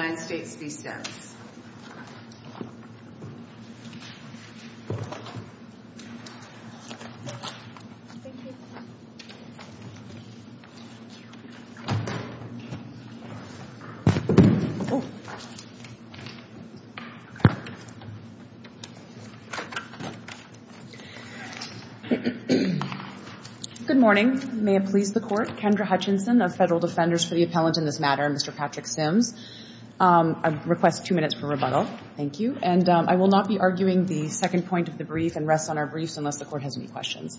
Good morning. May it please the court, Kendra Hutchinson of Federal Defenders for the Appellant in this matter, Mr. Patrick Sims. I request two minutes for rebuttal. Thank you. And I will not be arguing the second point of the brief and rest on our briefs unless the court has any questions.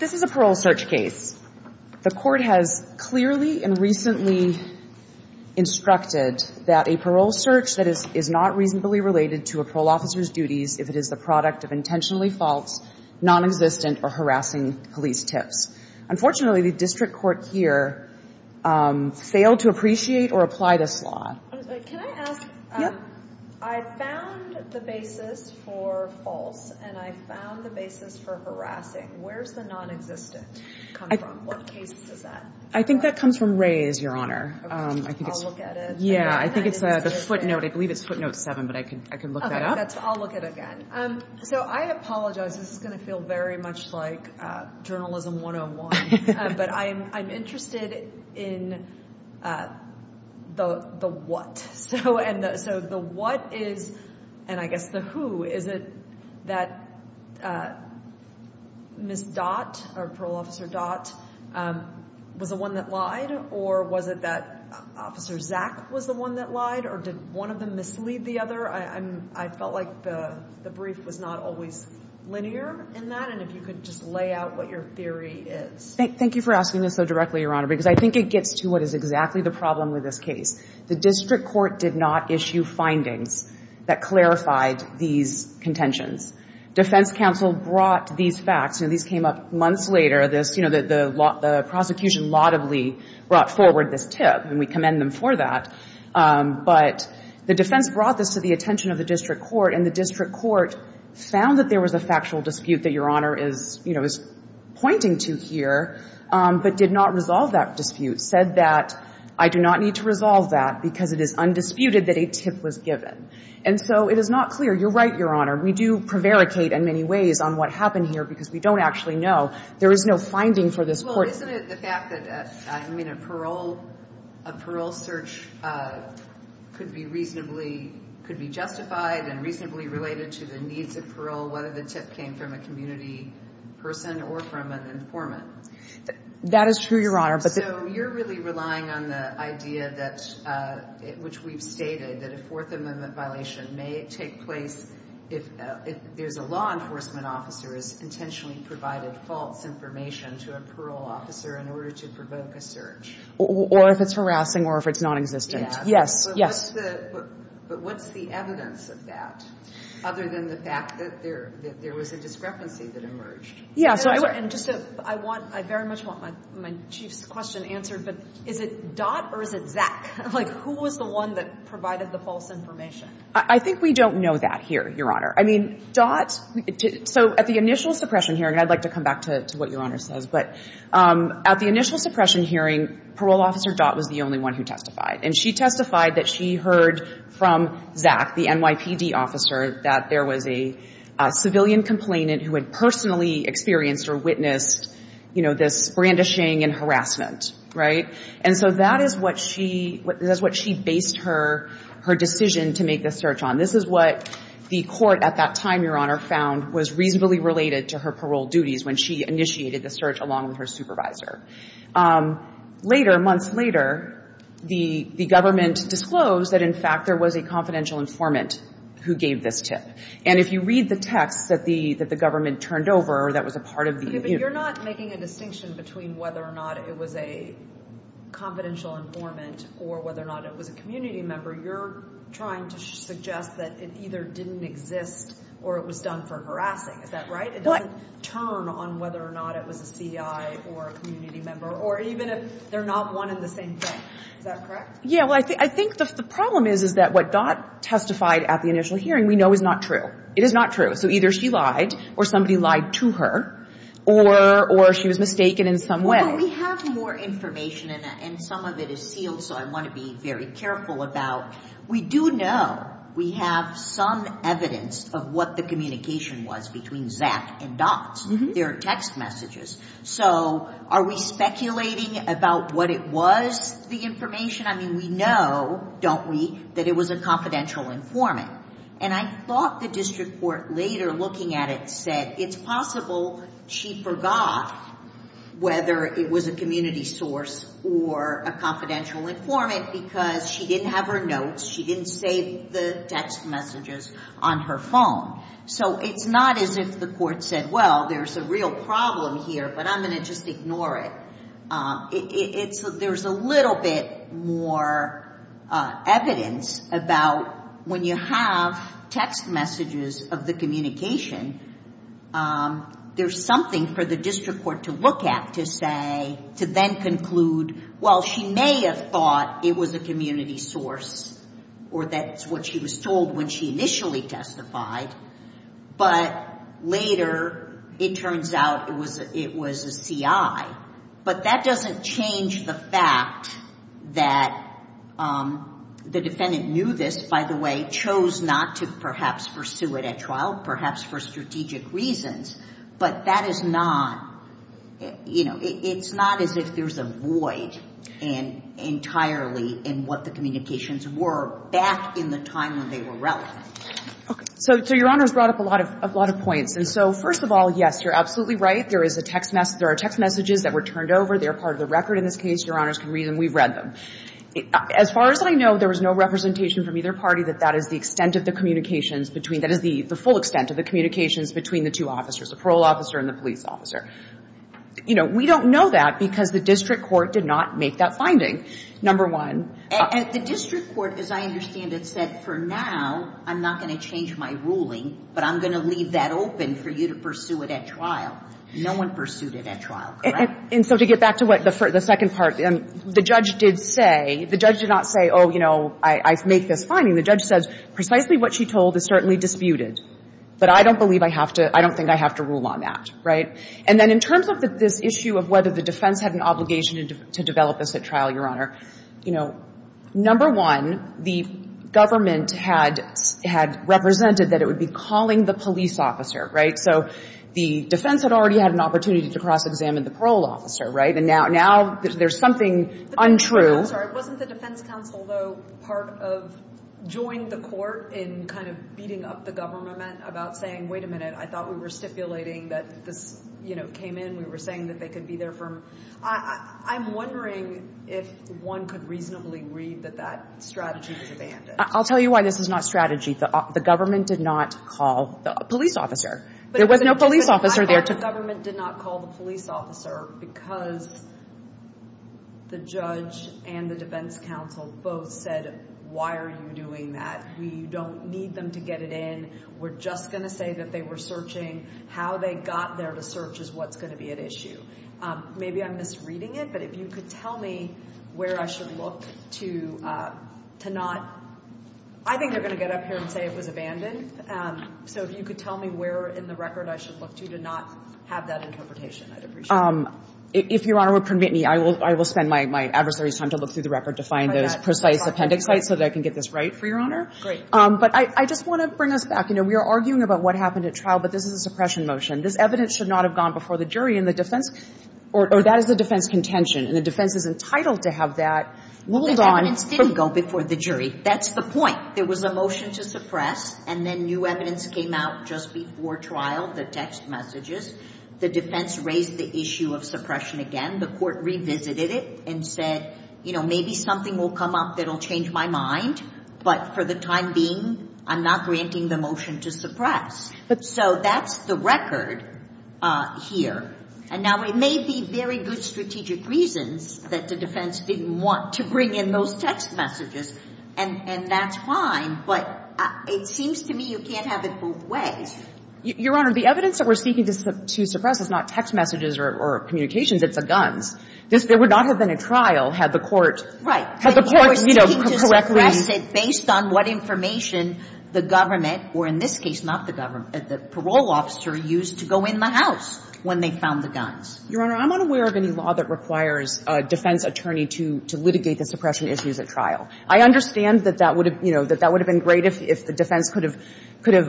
This is a parole search case. The court has clearly and recently instructed that a parole search that is not reasonably related to a parole officer's duties if it is the product of intentionally false, nonexistent, or harassing police tips. Unfortunately, the district court here failed to appreciate or apply this law. Can I ask, I found the basis for false, and I found the basis for harassing. Where's the nonexistent come from? What case is that? I think that comes from Ray's, Your Honor. I'll look at it. Yeah, I think it's the footnote. I believe it's footnote 7, but I can look that up. I'll look at it again. So I apologize. This is going to feel very much like Journalism 101, but I'm interested in the what. So the what is, and I guess the who, is it that Ms. Dot, or Parole Officer Dot, was the one that lied? Or was it that Officer Zach was the one that lied? Or did one of them mislead the other? I felt like the brief was not always linear in that, and if you could just lay out what your theory is. Thank you for asking this so directly, Your Honor, because I think it gets to what is exactly the problem with this case. The district court did not issue findings that clarified these contentions. Defense counsel brought these facts. These came up months later. The prosecution laudably brought forward this tip, and we commend them for that. But the defense brought this to the attention of the district court, and the district court found that there was a factual dispute that Your Honor is pointing to here, but did not resolve that dispute, said that, I do not need to resolve that because it is undisputed that a tip was given. And so it is not clear. You're right, Your Honor. We do prevaricate in many ways on what happened here because we don't actually know. There is no finding for this court. Well, isn't it the fact that, I mean, a parole search could be reasonably – could be justified and reasonably related to the needs of parole, whether the tip came from a community person or from an informant? That is true, Your Honor, but the – So you're really relying on the idea that – which we've stated, that a Fourth Amendment violation may take place if there's a law enforcement officer has intentionally provided false information to a parole officer in order to provoke a search. Or if it's harassing or if it's nonexistent. Yes. Yes. But what's the evidence of that, other than the fact that there was a discrepancy that emerged? Yes. And just a – I want – I very much want my Chief's question answered, but is it Dott or is it Zach? Like, who was the one that provided the false information? I think we don't know that here, Your Honor. I mean, Dott – so at the initial suppression hearing – and I'd like to come back to what Your Honor says, but at the initial suppression hearing, parole officer Dott was the only one who testified. And she testified that she heard from Zach, the NYPD officer, that there was a civilian complainant who had personally experienced or witnessed, you know, this brandishing and harassment, right? And so that is what she – that's what she based her decision to make the search on. This is what the court at that time, Your Honor, found was reasonably related to her parole duties when she initiated the search along with her supervisor. Later, months later, the government disclosed that, in fact, there was a confidential informant who gave this tip. And if you read the text that the government turned over that was a part of the – Okay. But you're not making a distinction between whether or not it was a confidential informant or whether or not it was a community member. You're trying to suggest that it either didn't exist or it was done for harassing. Is that right? What? It doesn't turn on whether or not it was a CI or a community member or even if they're not one and the same thing. Is that correct? Yeah. Well, I think the problem is, is that what Dott testified at the initial hearing we know is not true. It is not true. So either she lied or somebody lied to her or she was mistaken in some way. Well, we have more information and some of it is sealed, so I want to be very careful about – we do know we have some evidence of what the communication was between Zach and Dott. There are text messages. So are we speculating about what it was, the information? I mean, we know, don't we, that it was a confidential informant. And I thought the district court later looking at it said it's possible she forgot whether it was a community source or a confidential informant because she didn't have her notes, she didn't save the text messages on her phone. So it's not as if the court said, well, there's a real problem here, but I'm going to just ignore it. There's a little bit more evidence about when you have text messages of the communication, there's something for the it was a community source or that's what she was told when she initially testified, but later it turns out it was a CI. But that doesn't change the fact that the defendant knew this, by the way, chose not to perhaps pursue it at trial, perhaps for strategic reasons, but that is not – it's not as if there's a void entirely in what the communications were back in the time when they were relevant. Okay. So your Honor's brought up a lot of points. And so first of all, yes, you're absolutely right. There is a text – there are text messages that were turned over. They're part of the record in this case. Your Honor's can read them. We've read them. As far as I know, there was no representation from either party that that is the extent of the communications between – that is the full extent of the communications between the two officers, the parole officer and the police officer. You know, we don't know that because the district court did not make that finding, number one. And the district court, as I understand it, said, for now, I'm not going to change my ruling, but I'm going to leave that open for you to pursue it at trial. No one pursued it at trial, correct? And so to get back to what the second part – the judge did say – the judge did not say, oh, you know, I make this finding. The judge says precisely what she told is certainly disputed. But I don't believe I have to – I don't think I have to rule on that, right? And then in terms of this issue of whether the defense had an obligation to develop this at trial, Your Honor, you know, number one, the government had – had represented that it would be calling the police officer, right? So the defense had already had an opportunity to cross-examine the parole officer, right? And now – now, there's something untrue. I'm sorry. Wasn't the defense counsel, though, part of – joined the court in kind of beating up the government about saying, wait a minute, I thought we were stipulating that this, you know, came in. We were saying that they could be there for – I'm wondering if one could reasonably read that that strategy was abandoned. I'll tell you why this is not strategy. The government did not call the police officer. There was no police officer there. I thought the government did not call the police officer because the judge and the defense counsel both said, why are you doing that? We don't need them to get it in. We're just going to say that they were searching. How they got there to search is what's going to be at issue. Maybe I'm misreading it, but if you could tell me where I should look to – to not – I think they're going to get up here and say it was abandoned. So if you could tell me where in the record I should look to to not have that interpretation, I'd appreciate it. If Your Honor would permit me, I will – I will spend my adversary's time to look through the record to find those precise appendix sites so that I can get this right for Your Honor. Great. But I – I just want to bring us back. You know, we are arguing about what happened at trial, but this is a suppression motion. This evidence should not have gone before the jury and the defense – or that is a defense contention, and the defense is entitled to have that ruled on – The evidence didn't go before the jury. That's the point. There was a motion to suppress, and then new evidence came out just before trial, the text messages. The defense raised the issue of suppression again. The court revisited it and said, you know, maybe something will come up that will change my mind, but for the time being, I'm not granting the motion to suppress. So that's the record here. And now, it may be very good strategic reasons that the defense didn't want to bring in those text messages, and – and that's fine, but it seems to me you can't have it both ways. Your Honor, the evidence that we're seeking to suppress is not text messages or – or communications. It's a guns. This – there would not have been a trial had the court – Right. Had the court, you know, correctly – But you're seeking to suppress it based on what information the government or, in this case, not the government, the parole officer used to go in the house when they found the guns. Your Honor, I'm unaware of any law that requires a defense attorney to – to litigate the suppression issues at trial. I understand that that would have – you know, that that would have been great if the defense could have – could have,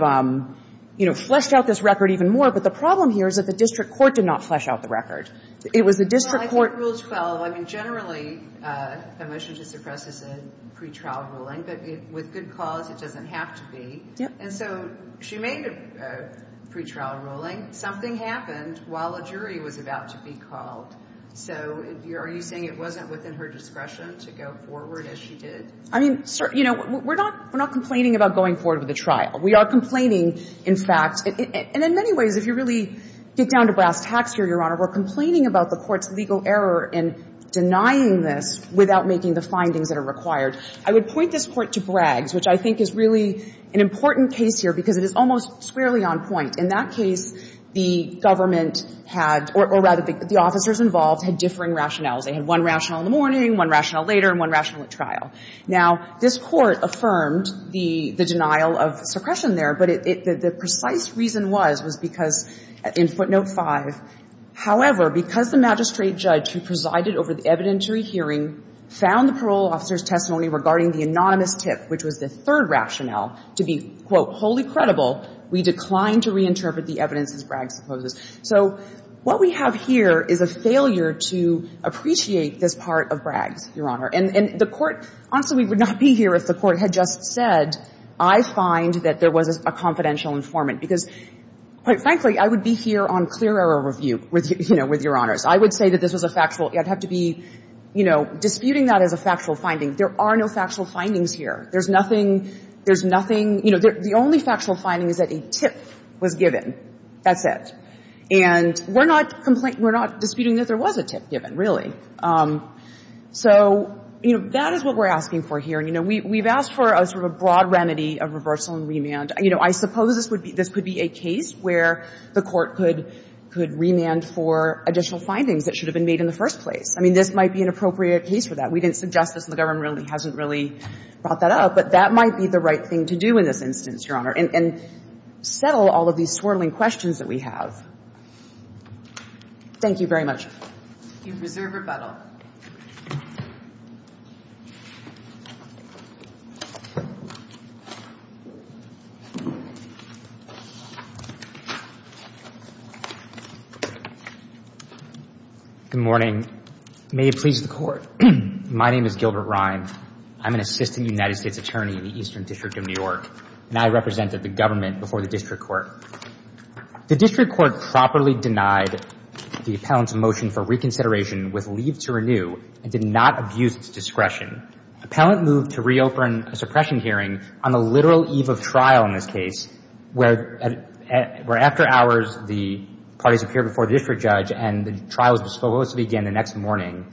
you know, fleshed out this record even more. But the problem here is that the district court did not flesh out the record. It was the district court – Well, I think Rule 12 – I mean, generally, the motion to suppress is a pretrial ruling, but with good cause, it doesn't have to be. Yeah. And so she made a pretrial ruling. Something happened while a jury was about to be called. So are you saying it wasn't within her discretion to go forward as she did? I mean, sir, you know, we're not – we're not complaining about going forward with the trial. We are complaining, in fact – and in many ways, if you really get down to brass tacks here, Your Honor, we're complaining about the court's legal error in denying this without making the findings that are required. I would point this Court to Braggs, which I think is really an important case here because it is almost squarely on point. In that case, the government had – or rather, the officers involved had differing rationales. They had one rational in the morning, one rational later, and one rational at trial. Now, this Court affirmed the denial of suppression there, but it – the precise reason was, was because in footnote 5, however, because the magistrate judge who presided over the evidentiary hearing found the parole officer's testimony regarding the anonymous tip, which was the third rationale, to be, quote, wholly credible, we declined to reinterpret the evidence as Braggs supposes. So what we have here is a failure to appreciate this part of Braggs, Your Honor. And the Court – honestly, we would not be here if the Court had just said, I find that there was a confidential informant, because, quite frankly, I would be here on clear error review with, you know, with Your Honors. I would say that this was a factual – I'd have to be, you know, disputing that as a factual finding. There are no factual findings here. There's nothing – there's nothing – you know, the only factual finding is that a tip was given. That's it. And we're not – we're not disputing that there was a tip given, really. So, you know, that is what we're asking for here. And, you know, we've asked for a sort of a broad remedy of reversal and remand. You know, I suppose this would be – this could be a case where the Court could remand for additional findings that should have been made in the first place. I mean, this might be an appropriate case for that. We didn't suggest this, and the government really hasn't really brought that up, but that might be the right thing to do in this instance, Your Honor, and settle all of these swirling questions that we have. Thank you very much. You deserve rebuttal. Good morning. May it please the Court. My name is Gilbert Rhyne. I'm an Assistant United States Attorney in the Eastern District of New York, and I represented the government before the district court. The district court properly denied the appellant's motion for reconsideration with leave to renew and did not abuse its discretion. Appellant moved to reopen a suppression hearing on the literal eve of trial in this case, where – where after hours, the parties appeared before the district judge, and the trial was disclosed again the next morning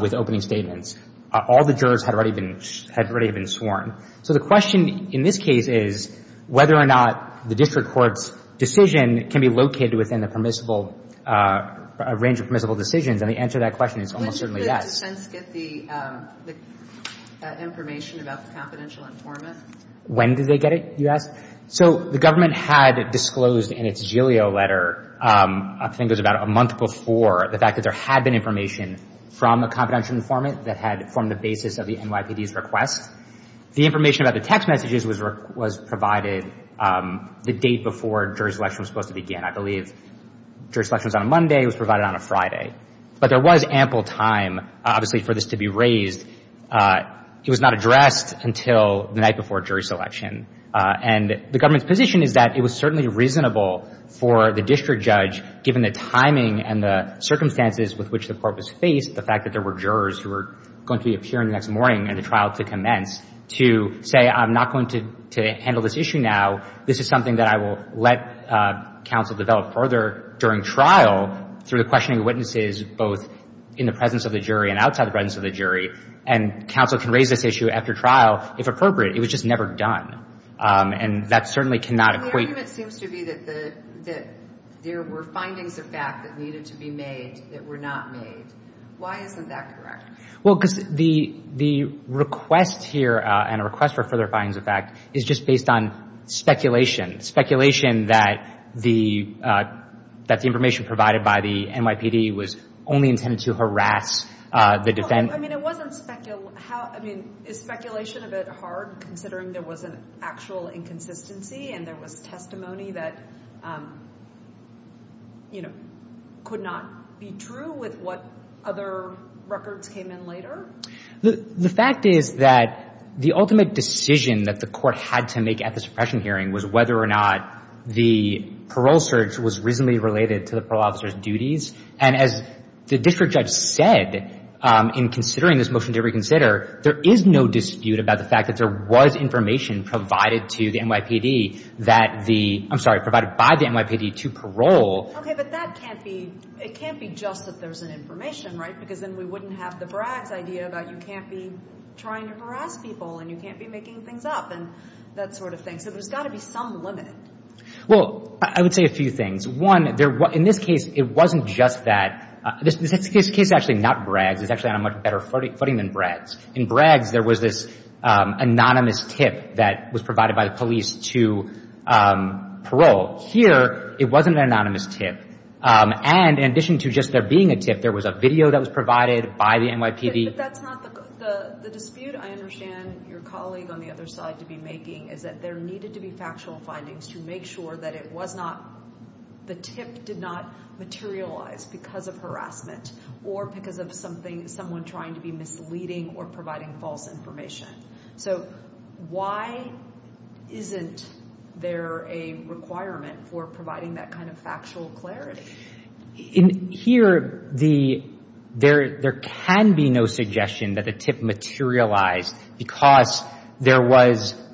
with opening statements. All the jurors had already been – had already been sworn. So the question in this case is whether or not the district court's decision can be located within the permissible – a range of permissible decisions, and the answer to that question is almost certainly yes. When did the defense get the – the information about the confidential informant? When did they get it, you ask? So the government had disclosed in its GILEO letter – I think it was about a month before – the fact that there had been information from the confidential informant that had formed the basis of the case. The information about the text messages was – was provided the date before jury selection was supposed to begin. I believe jury selection was on a Monday. It was provided on a Friday. But there was ample time, obviously, for this to be raised. It was not addressed until the night before jury selection. And the government's position is that it was certainly reasonable for the district judge, given the timing and the circumstances with which the court was faced, the fact that there were jurors who were going to be appearing the next morning and the jury selection commenced, to say, I'm not going to – to handle this issue now. This is something that I will let counsel develop further during trial through the questioning of witnesses, both in the presence of the jury and outside the presence of the jury. And counsel can raise this issue after trial, if appropriate. It was just never done. And that certainly cannot equate – And the argument seems to be that the – that there were findings of fact that needed to be made that were not made. Why isn't that correct? Well, because the request here and a request for further findings of fact is just based on speculation. Speculation that the – that the information provided by the NYPD was only intended to harass the defendants. Well, I mean, it wasn't – I mean, is speculation a bit hard, considering there was an actual inconsistency and there was testimony that, you know, could not be true with what other records came in later? The fact is that the ultimate decision that the court had to make at the suppression hearing was whether or not the parole search was reasonably related to the parole officer's duties. And as the district judge said in considering this motion to reconsider, there is no dispute about the fact that there was information provided to the NYPD that the – I'm sorry, provided by the NYPD to parole. Okay. But that can't be – it can't be just that there's an information, right? Because then we wouldn't have the Braggs idea about you can't be trying to harass people and you can't be making things up and that sort of thing. So there's got to be some limit. Well, I would say a few things. One, there – in this case, it wasn't just that – this case is actually not Braggs. It's actually on a much better footing than Braggs. In Braggs, there was this anonymous tip that was provided by the police to parole. Here, it wasn't an anonymous tip. And in addition to just there being a tip, there was a video that was provided by the NYPD. But that's not the – the dispute I understand your colleague on the other side to be making is that there needed to be factual findings to make sure that it was not – the tip did not materialize because of harassment or because of something – someone trying to be misleading or providing false information. So why isn't there a requirement for providing that kind of factual clarity? In here, the – there can be no suggestion that the tip materialized because there was –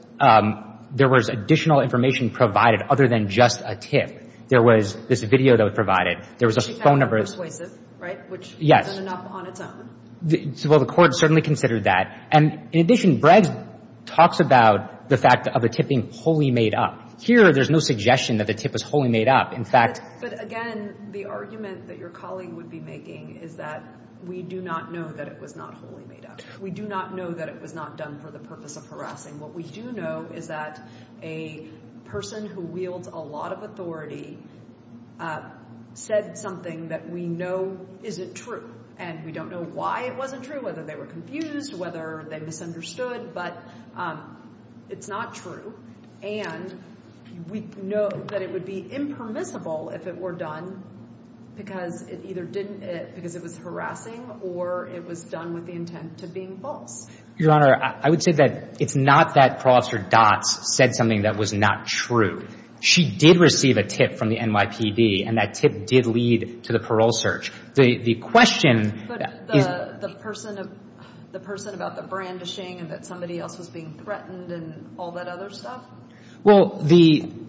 there was additional information provided other than just a tip. There was this video that was provided. There was a phone number. Which is kind of persuasive, right? Yes. Which has done enough on its own. Well, the court certainly considered that. And in addition, Braggs talks about the fact of a tip being wholly made up. Here, there's no suggestion that the tip was wholly made up. In fact – But again, the argument that your colleague would be making is that we do not know that it was not wholly made up. We do not know that it was not done for the purpose of harassing. What we do know is that a person who wields a lot of authority said something that we know isn't true. And we don't know why it wasn't true, whether they were confused, whether they misunderstood. But it's not true. And we know that it would be impermissible if it were done because it either didn't – because it was harassing or it was done with the intent to being false. Your Honor, I would say that it's not that Parole Officer Dotz said something that was not true. She did receive a tip from the NYPD, and that tip did lead to the parole search. The question is – But the person about the brandishing and that somebody else was being threatened and all that other stuff? Well, the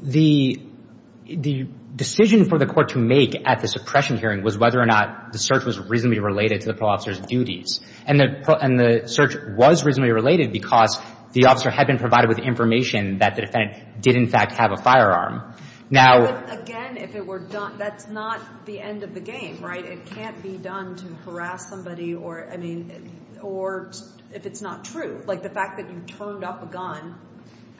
decision for the court to make at the suppression hearing was whether or not the search was reasonably related to the parole officer's duties. And the search was reasonably related because the officer had been provided with information that the defendant did, in fact, have a firearm. Now – But again, if it were done – that's not the end of the game, right? It can't be done to harass somebody or – I mean – or if it's not true. Like, the fact that you turned up a gun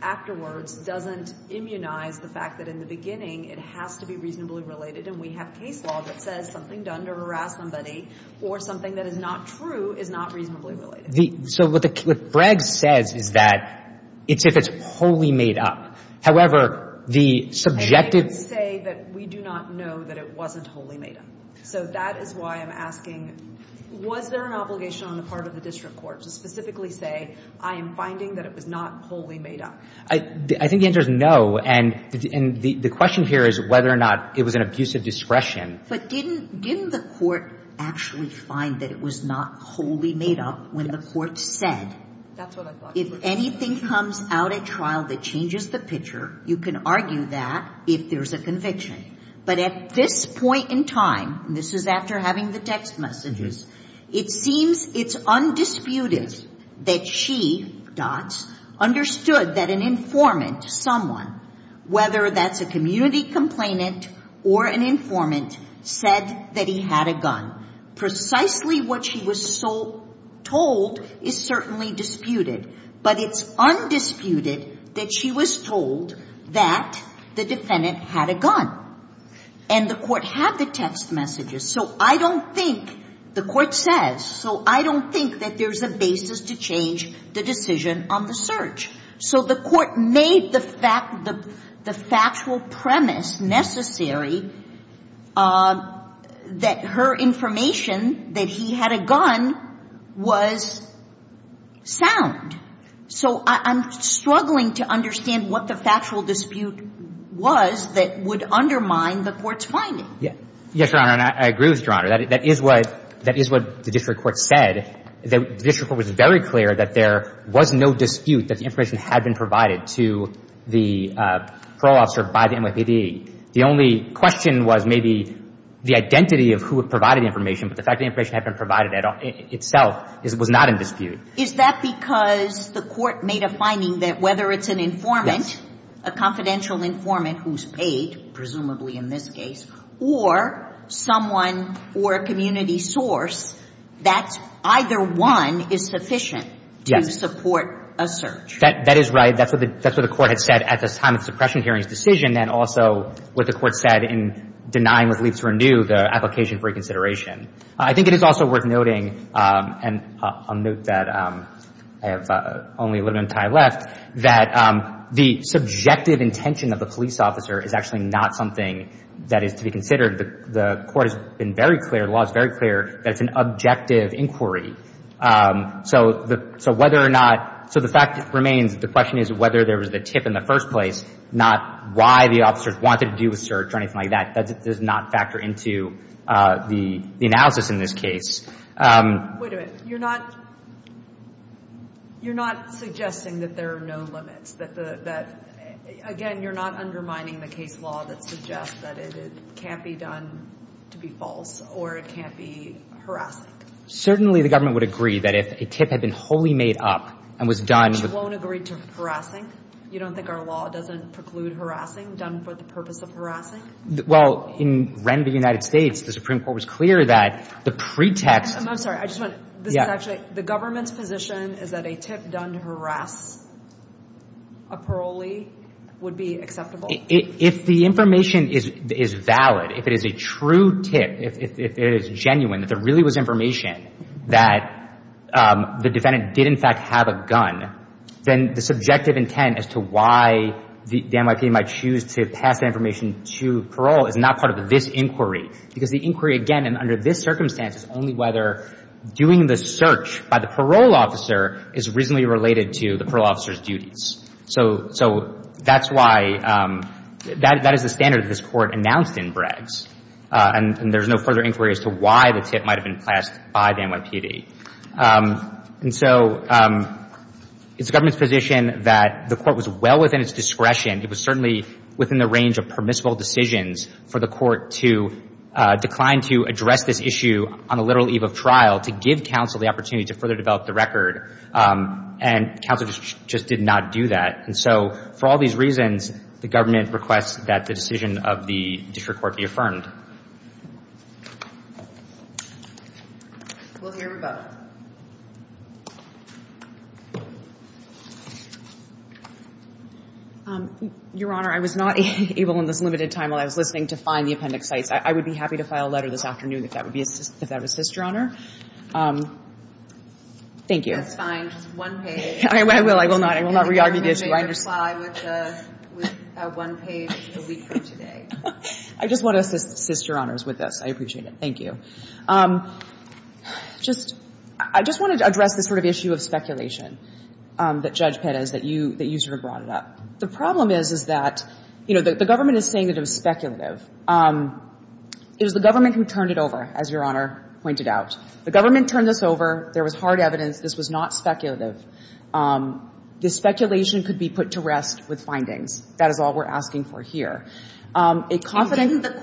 afterwards doesn't immunize the fact that in the beginning it has to be reasonably related. And we have case law that says something done to harass somebody or something that is not true is not reasonably related. The – so what the – what Breggs says is that it's if it's wholly made up. However, the subjective – And I didn't say that we do not know that it wasn't wholly made up. So that is why I'm asking, was there an obligation on the part of the district court to specifically say, I am finding that it was not wholly made up? I think the answer is no. And the question here is whether or not it was an abuse of discretion. But didn't – didn't the court actually find that it was not wholly made up when the court said – That's what I thought. If anything comes out at trial that changes the picture, you can argue that if there's a conviction. But at this point in time – and this is after having the text messages – it seems it's undisputed that she, Dots, understood that an informant, someone, whether that's a community complainant or an informant, said that he had a gun. Precisely what she was told is certainly disputed. But it's undisputed that she was told that the defendant had a gun. And the court had the text messages. So I don't think – the court says – so I don't think that there's a basis to on the search. So the court made the factual premise necessary that her information that he had a gun was sound. So I'm struggling to understand what the factual dispute was that would undermine the court's finding. Yes, Your Honor. And I agree with Your Honor. That is what the district court said. That the district court was very clear that there was no dispute that the information had been provided to the parole officer by the NYPD. The only question was maybe the identity of who had provided the information. But the fact that the information had been provided itself was not in dispute. Is that because the court made a finding that whether it's an informant, a confidential informant who's paid, presumably in this case, or someone or a community source, that either one is sufficient to support a search? Yes. That is right. That's what the court had said at the time of the suppression hearing's decision. And also what the court said in denying what leads to renew the application for reconsideration. I think it is also worth noting – and I'll have only a little bit of time left – that the subjective intention of the police officer is actually not something that is to be considered. The court has been very clear, the law is very clear, that it's an objective inquiry. So whether or not – so the fact remains, the question is whether there was a tip in the first place, not why the officers wanted to do a search or anything like that. That does not factor into the analysis in this case. Wait a minute. You're not – you're not suggesting that there are no limits, that the – that – again, you're not undermining the case law that suggests that it can't be done to be false or it can't be harassing? Certainly the government would agree that if a tip had been wholly made up and was done – Which won't agree to harassing? You don't think our law doesn't preclude harassing done for the purpose of harassing? Well, in Ren v. United States, the Supreme Court was clear that the pretext – I'm sorry. I just want – this is actually – the government's position is that a tip done to harass a parolee would be acceptable? If the information is valid, if it is a true tip, if it is genuine, if there really was information that the defendant did in fact have a gun, then the subjective parole is not part of this inquiry. Because the inquiry, again, and under this circumstance, is only whether doing the search by the parole officer is reasonably related to the parole officer's duties. So – so that's why – that is the standard that this Court announced in Breggs. And there's no further inquiry as to why the tip might have been pressed by the NYPD. And so it's the government's position that the Court was well within its discretion. It was certainly within the range of permissible decisions for the Court to decline to address this issue on the literal eve of trial to give counsel the opportunity to further develop the record. And counsel just did not do that. And so for all these reasons, the government requests that the decision of the district court be affirmed. We'll hear from both. Your Honor. Your Honor, I was not able in this limited time while I was listening to find the appendix sites. I would be happy to file a letter this afternoon if that would be – if that would assist, Your Honor. Thank you. That's fine. Just one page. I will. I will not. I will not re-argue the issue. I understand. And you can make a reply with a one-page a week from today. I just want to assist Your Honors with this. I appreciate it. Thank you. Just – I just wanted to address this sort of issue of speculation that Judge Pettis that you – that you sort of brought it up. The problem is, is that, you know, the government is saying that it was speculative. It was the government who turned it over, as Your Honor pointed out. The government turned this over. There was hard evidence. This was not speculative. The speculation could be put to rest with findings. That is all we're asking for here. A confident – And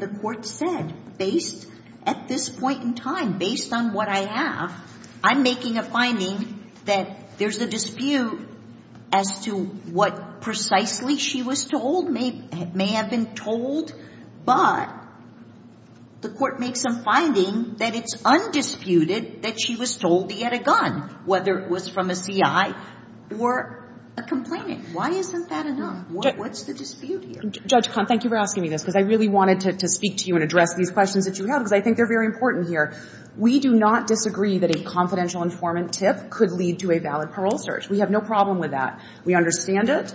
the court said, based – at this point in time, based on what I have, I'm making a finding that there's a dispute as to what precisely she was told may have been told. But the court makes a finding that it's undisputed that she was told he had a gun, whether it was from a C.I. or a complainant. Why isn't that enough? What's the dispute here? Judge Kahn, thank you for asking me this, because I really wanted to speak to you and address these questions that you have, because I think they're very important here. We do not disagree that a confidential informant tip could lead to a valid parole search. We have no problem with that. We understand it.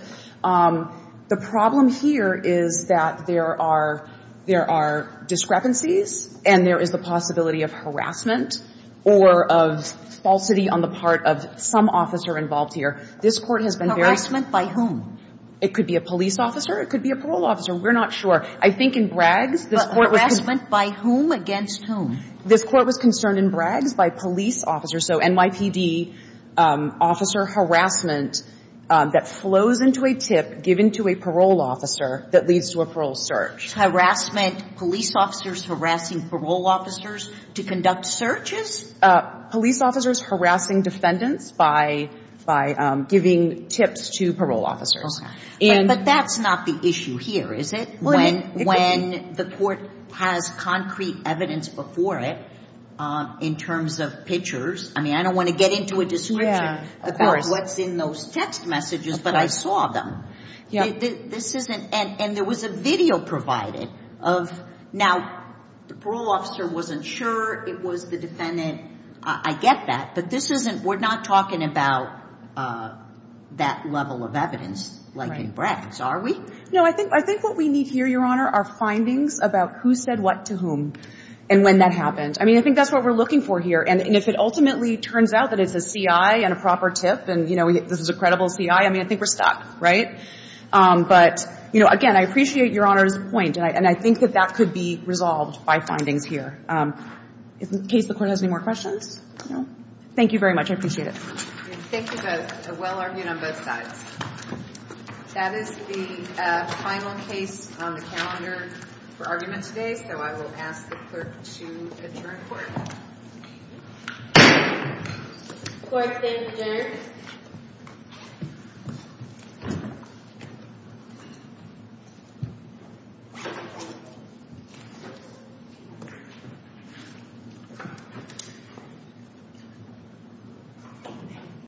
The problem here is that there are – there are discrepancies, and there is the possibility of harassment or of falsity on the part of some officer involved here. This Court has been very – Harassment by whom? It could be a police officer. It could be a parole officer. We're not sure. I think in Bragg's, this Court was – But harassment by whom against whom? This Court was concerned in Bragg's by police officers. So NYPD officer harassment that flows into a tip given to a parole officer that leads to a parole search. Harassment, police officers harassing parole officers to conduct searches? Police officers harassing defendants by giving tips to parole officers. But that's not the issue here, is it? When the Court has concrete evidence before it in terms of pictures – I mean, I don't want to get into a description about what's in those text messages, but I saw them. This isn't – and there was a video provided of – Now, the parole officer wasn't sure it was the defendant. I get that. But this isn't – we're not talking about that level of evidence like in Bragg's, are we? No, I think what we need here, Your Honor, are findings about who said what to whom and when that happened. I mean, I think that's what we're looking for here. And if it ultimately turns out that it's a CI and a proper tip and, you know, this is a credible CI, I mean, I think we're stuck, right? But, you know, again, I appreciate Your Honor's point, and I think that that could be resolved by findings here. In case the Court has any more questions? No? Thank you very much. I appreciate it. Thank you, both. Well argued on both sides. That is the final case on the calendar for argument today, so I will ask the Clerk to adjourn the Court. Court is adjourned.